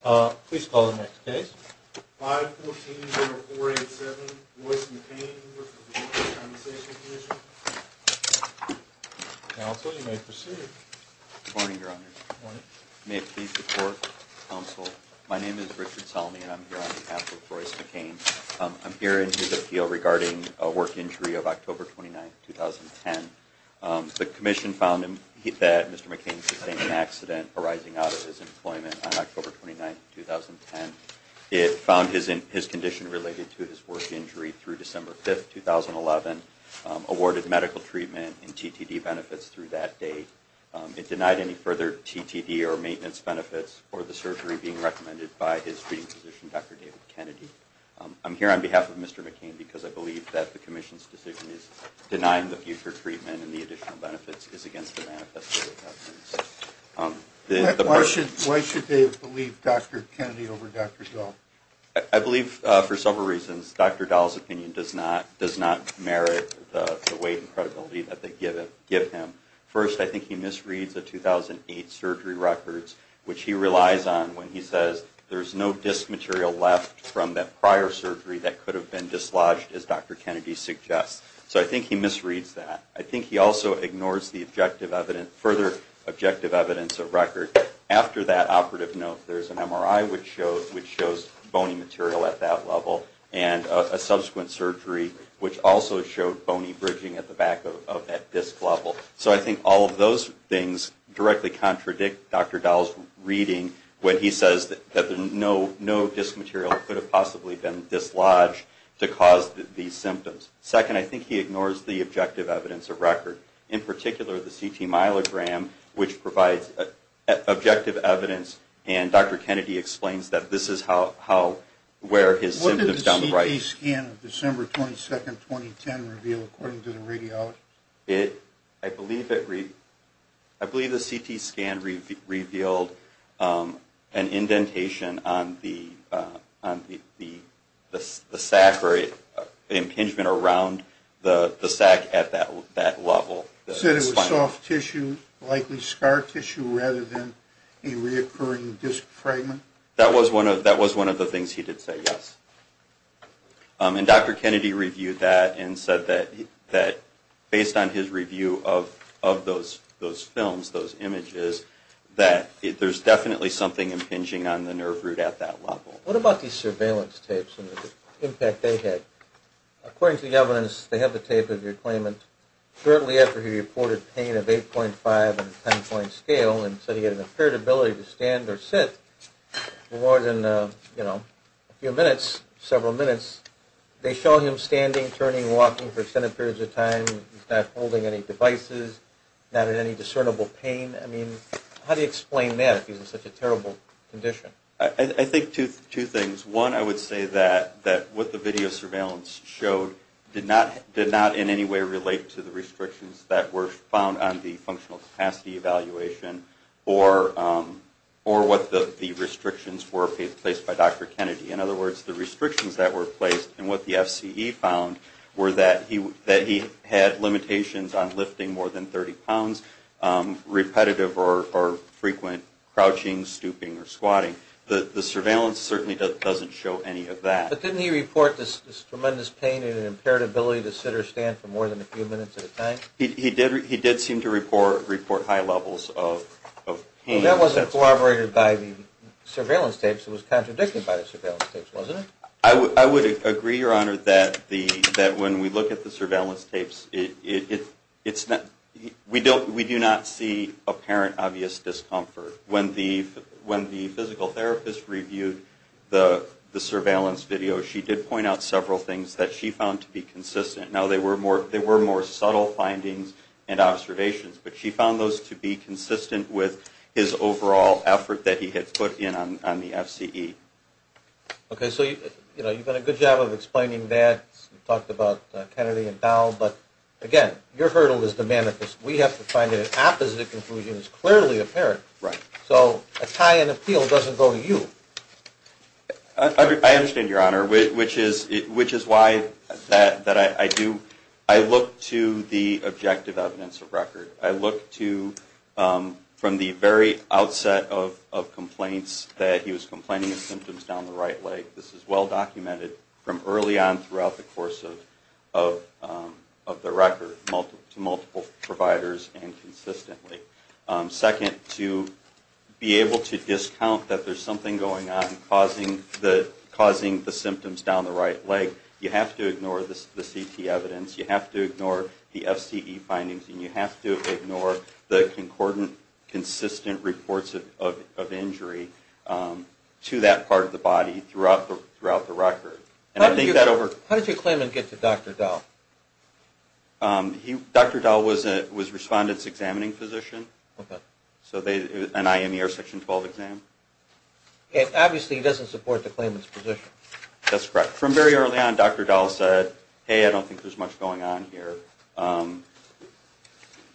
Please call the next case. 5-14-0487, Royce McCain, Workers' Compensation Compensation Commission. Counsel, you may proceed. Good morning, Your Honor. Good morning. May it please the Court, Counsel, my name is Richard Salmi and I'm here on behalf of Royce McCain. I'm here in his appeal regarding a work injury of October 29, 2010. The Commission found that Mr. McCain sustained an accident arising out of his employment on October 29, 2010. It found his condition related to his work injury through December 5, 2011, awarded medical treatment and TTD benefits through that date. It denied any further TTD or maintenance benefits for the surgery being recommended by his treating physician, Dr. David Kennedy. I'm here on behalf of Mr. McCain because I believe that the Commission's decision is denying the future treatment and the additional benefits is against the manifesto of evidence. Why should they believe Dr. Kennedy over Dr. Dahl? I believe for several reasons Dr. Dahl's opinion does not merit the weight and credibility that they give him. First, I think he misreads the 2008 surgery records, which he relies on when he says there's no disc material left from that prior surgery that could have been dislodged, as Dr. Kennedy suggests. So I think he misreads that. I think he also ignores the further objective evidence of record. After that operative note, there's an MRI which shows bony material at that level and a subsequent surgery which also showed bony bridging at the back of that disc level. So I think all of those things directly contradict Dr. Dahl's reading when he says that no disc material could have possibly been dislodged to cause these symptoms. Second, I think he ignores the objective evidence of record. In particular, the CT myelogram which provides objective evidence and Dr. Kennedy explains that this is where his symptoms down the right... I believe the CT scan revealed an indentation on the sac or an impingement around the sac at that level. Said it was soft tissue, likely scar tissue rather than a reoccurring disc fragment? That was one of the things he did say, yes. And Dr. Kennedy reviewed that and said that based on his review of those films, those images, that there's definitely something impinging on the nerve root at that level. What about these surveillance tapes and the impact they had? According to the evidence, they have the tape of your claimant shortly after he reported pain of 8.5 on a 10-point scale and said he had an impaired ability to stand or sit for more than a few minutes, several minutes. They show him standing, turning, walking for extended periods of time. He's not holding any devices, not in any discernible pain. I mean, how do you explain that if he's in such a terrible condition? I think two things. One, I would say that what the video surveillance showed did not in any way relate to the restrictions that were found on the functional capacity evaluation or what the restrictions were placed by Dr. Kennedy. In other words, the restrictions that were placed and what the FCE found were that he had limitations on lifting more than 30 pounds, repetitive or frequent crouching, stooping or squatting. The surveillance certainly doesn't show any of that. But didn't he report this tremendous pain and impaired ability to sit or stand for more than a few minutes at a time? He did seem to report high levels of pain. That wasn't corroborated by the surveillance tapes. It was contradicted by the surveillance tapes, wasn't it? I would agree, Your Honor, that when we look at the surveillance tapes, we do not see apparent obvious discomfort. When the physical therapist reviewed the surveillance video, she did point out several things that she found to be consistent. Now, they were more subtle findings and observations, but she found those to be consistent with his overall effort that he had put in on the FCE. Okay, so you've done a good job of explaining that. You've talked about Kennedy and Dowell. But again, your hurdle is to manifest. We have to find an opposite conclusion that's clearly apparent. So a tie in appeal doesn't go to you. I understand, Your Honor, which is why I look to the objective evidence of record. I look to from the very outset of complaints that he was complaining of symptoms down the right leg. This is well documented from early on throughout the course of the record to multiple providers and consistently. Second, to be able to discount that there's something going on causing the symptoms down the right leg, you have to ignore the CT evidence, you have to ignore the FCE findings, and you have to ignore the consistent reports of injury to that part of the body throughout the record. How did your claimant get to Dr. Dowell? Dr. Dowell was a Respondent's Examining Physician, an IME or Section 12 exam. And obviously he doesn't support the claimant's position. That's correct. From very early on, Dr. Dowell said, hey, I don't think there's much going on here.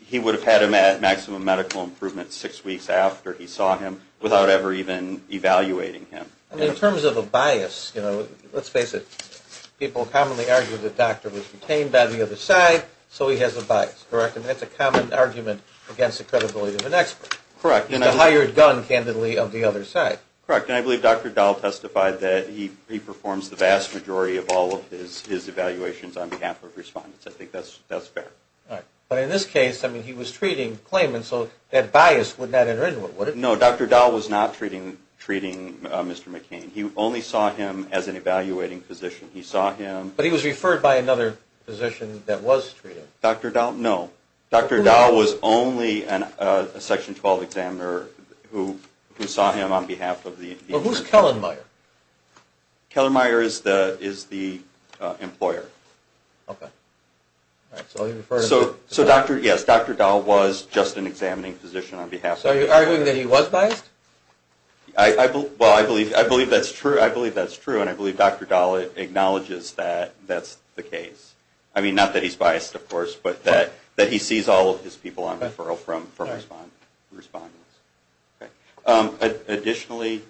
He would have had him at maximum medical improvement six weeks after he saw him without ever even evaluating him. In terms of a bias, you know, let's face it. People commonly argue that the doctor was detained by the other side, so he has a bias, correct? And that's a common argument against the credibility of an expert. Correct. And a hired gun, candidly, of the other side. Correct. And I believe Dr. Dowell testified that he performs the vast majority of all of his evaluations on behalf of Respondents. I think that's fair. Right. But in this case, I mean, he was treating claimants, so that bias would not enter into it, would it? No, Dr. Dowell was not treating Mr. McCain. He only saw him as an evaluating physician. He saw him... But he was referred by another physician that was treated. Dr. Dowell, no. Dr. Dowell was only a Section 12 examiner who saw him on behalf of the... Well, who's Kellenmeier? Kellenmeier is the employer. Okay. So he referred... So, yes, Dr. Dowell was just an examining physician on behalf of... So are you arguing that he was biased? Well, I believe that's true, and I believe Dr. Dowell acknowledges that that's the case. I mean, not that he's biased, of course, but that he sees all of his people on referral from Respondents. Additionally,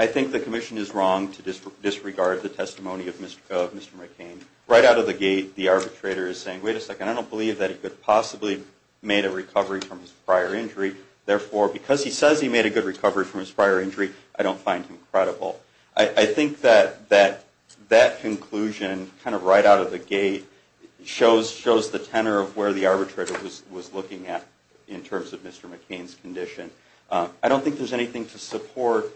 I think the Commission is wrong to disregard the testimony of Mr. McCain. Right out of the gate, the arbitrator is saying, wait a second, I don't believe that he could possibly have made a recovery from his prior injury. Therefore, because he says he made a good recovery from his prior injury, I don't find him credible. I think that that conclusion, kind of right out of the gate, shows the tenor of where the arbitrator was looking at in terms of Mr. McCain's condition. I don't think there's anything to support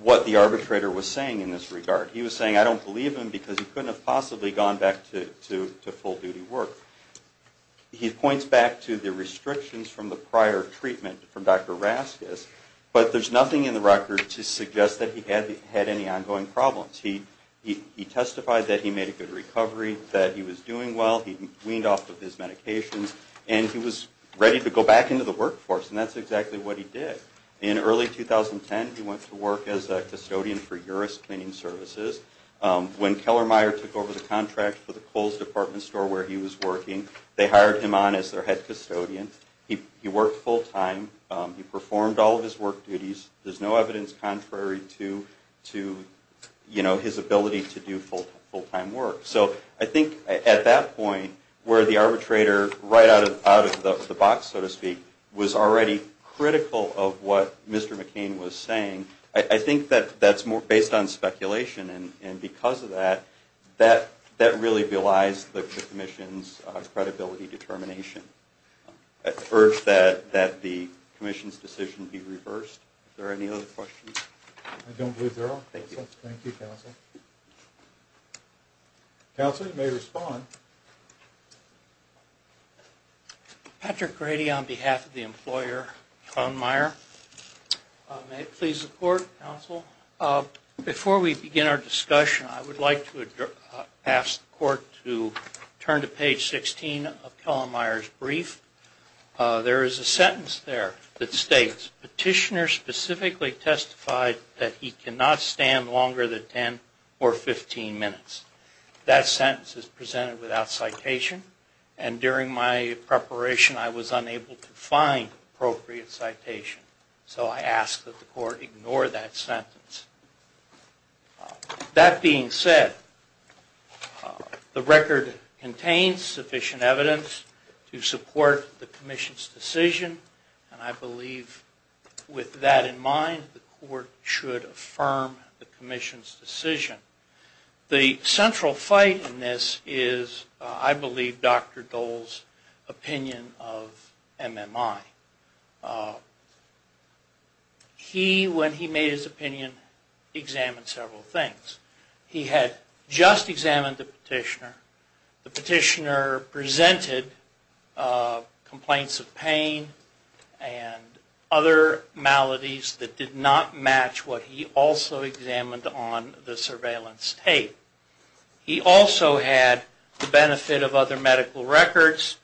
what the arbitrator was saying in this regard. He was saying, I don't believe him because he couldn't have possibly gone back to full-duty work. He points back to the restrictions from the prior treatment from Dr. Raskis, but there's nothing in the record to suggest that he had any ongoing problems. He testified that he made a good recovery, that he was doing well, he weaned off of his medications, and he was ready to go back into the workforce, and that's exactly what he did. In early 2010, he went to work as a custodian for Uris Cleaning Services. When Keller-Meyer took over the contract for the Kohl's department store where he was working, they hired him on as their head custodian. He worked full-time. He performed all of his work duties. There's no evidence contrary to his ability to do full-time work. So I think at that point where the arbitrator, right out of the box, so to speak, was already critical of what Mr. McCain was saying, I think that's based on speculation, and because of that, that really belies the commission's credibility determination. I urge that the commission's decision be reversed. Are there any other questions? I don't believe there are. Thank you. Thank you, Counsel. Counsel, you may respond. Patrick Grady on behalf of the employer Keller-Meyer. May it please the Court, Counsel. Before we begin our discussion, I would like to ask the Court to turn to page 16 of Keller-Meyer's brief. There is a sentence there that states, Petitioner specifically testified that he cannot stand longer than 10 or 15 minutes. That sentence is presented without citation, and during my preparation I was unable to find appropriate citation. So I ask that the Court ignore that sentence. That being said, the record contains sufficient evidence to support the commission's decision, and I believe with that in mind the Court should affirm the commission's decision. The central fight in this is, I believe, Dr. Dole's opinion of MMI. He, when he made his opinion, examined several things. He had just examined the petitioner. The petitioner presented complaints of pain and other maladies that did not match what he also examined on the surveillance tape. He also had the benefit of other medical records,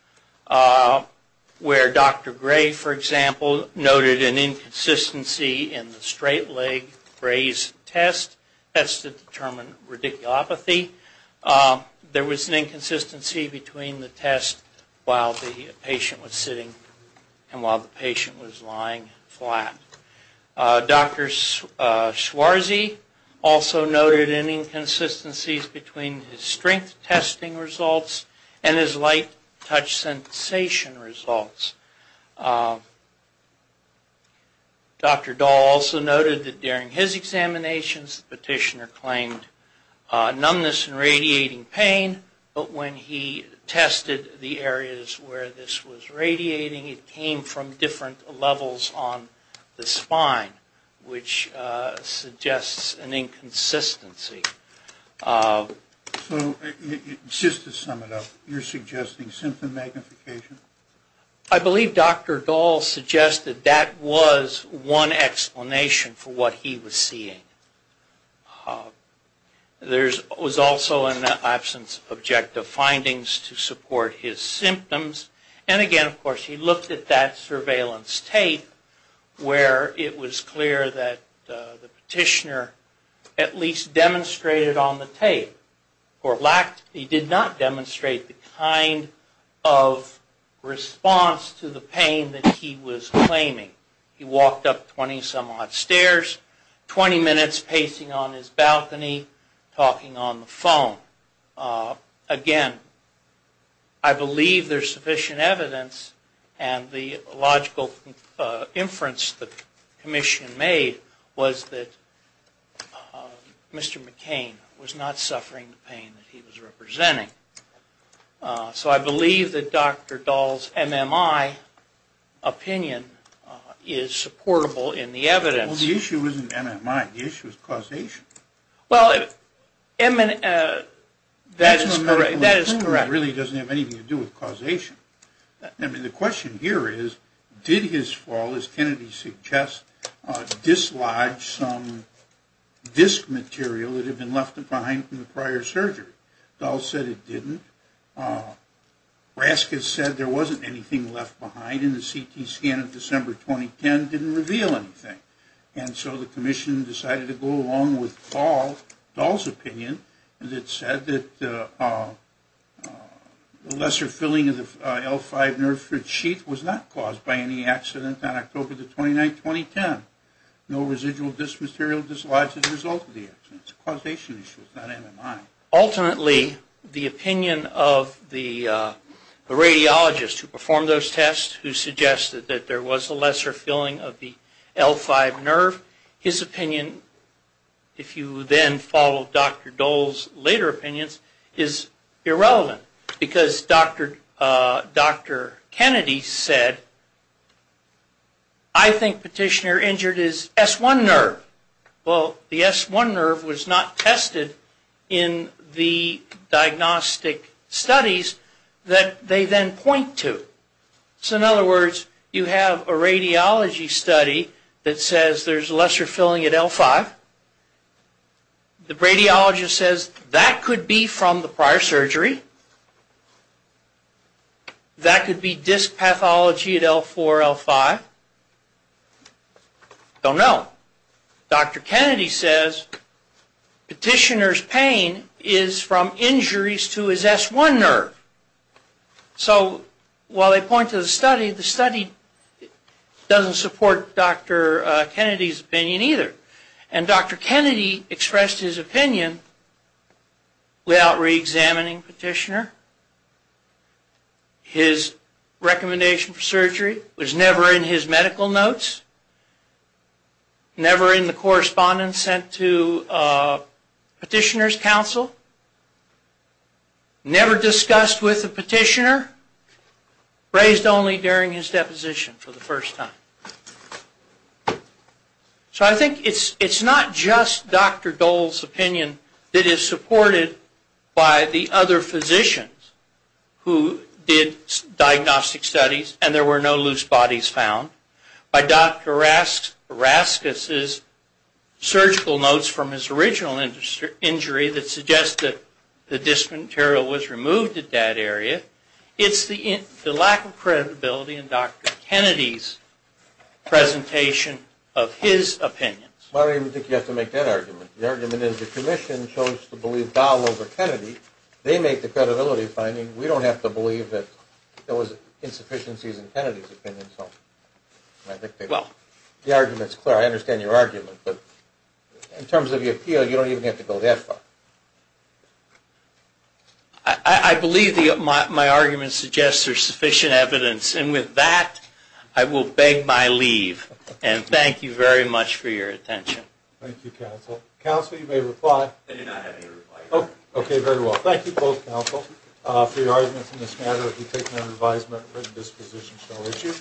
where Dr. Gray, for example, noted an inconsistency in the straight-leg braised test. That's to determine radiculopathy. There was an inconsistency between the test while the patient was sitting and while the patient was lying flat. Dr. Schwarzy also noted inconsistencies between his strength testing results and his light-touch sensation results. Dr. Dole also noted that during his examinations, the petitioner claimed numbness and radiating pain, but when he tested the areas where this was radiating, it came from different levels on the spine, which suggests an inconsistency. So just to sum it up, you're suggesting symptom magnification? I believe Dr. Dole suggested that was one explanation for what he was seeing. There was also an absence of objective findings to support his symptoms. And again, of course, he looked at that surveillance tape, where it was clear that the petitioner at least demonstrated on the tape, he did not demonstrate the kind of response to the pain that he was claiming. He walked up 20-some odd stairs, 20 minutes pacing on his balcony, talking on the phone. Again, I believe there's sufficient evidence and the logical inference that the commission made was that Mr. McCain was not suffering the pain that he was representing. So I believe that Dr. Dole's MMI opinion is supportable in the evidence. Well, the issue isn't MMI. The issue is causation. Well, that is correct. It really doesn't have anything to do with causation. I mean, the question here is, did his fall, as Kennedy suggests, dislodge some disc material that had been left behind from the prior surgery? Dole said it didn't. Raskin said there wasn't anything left behind, and the CT scan of December 2010 didn't reveal anything. And so the commission decided to go along with Dole's opinion, and it said that the lesser filling of the L5 nerve for the sheath was not caused by any accident on October 29, 2010. No residual disc material dislodged as a result of the accident. It's a causation issue. It's not MMI. Ultimately, the opinion of the radiologist who performed those tests, who suggested that there was a lesser filling of the L5 nerve, his opinion, if you then follow Dr. Dole's later opinions, is irrelevant. Because Dr. Kennedy said, I think petitioner injured his S1 nerve. Well, the S1 nerve was not tested in the diagnostic studies that they then point to. So, in other words, you have a radiology study that says there's lesser filling at L5. The radiologist says that could be from the prior surgery. That could be disc pathology at L4, L5. Don't know. Dr. Kennedy says petitioner's pain is from injuries to his S1 nerve. So, while they point to the study, the study doesn't support Dr. Kennedy's opinion either. And Dr. Kennedy expressed his opinion without reexamining petitioner. His recommendation for surgery was never in his medical notes. Never in the correspondence sent to petitioner's counsel. Never discussed with the petitioner. Raised only during his deposition for the first time. So, I think it's not just Dr. Dole's opinion that is supported by the other physicians who did diagnostic studies and there were no loose bodies found. By Dr. Raskis's surgical notes from his original injury that suggest that the disc material was removed at that area. It's the lack of credibility in Dr. Kennedy's presentation of his opinion. I don't even think you have to make that argument. The argument is the commission chose to believe Dole over Kennedy. They make the credibility finding. We don't have to believe that there was insufficiencies in Kennedy's opinion. I think the argument is clear. I understand your argument. But in terms of the appeal, you don't even have to go that far. I believe my argument suggests there's sufficient evidence. And with that, I will beg my leave. And thank you very much for your attention. Thank you, counsel. Counsel, you may reply. I did not have any reply. Okay, very well. Thank you both, counsel, for your arguments in this matter. We take them under advisement. This position shall issue.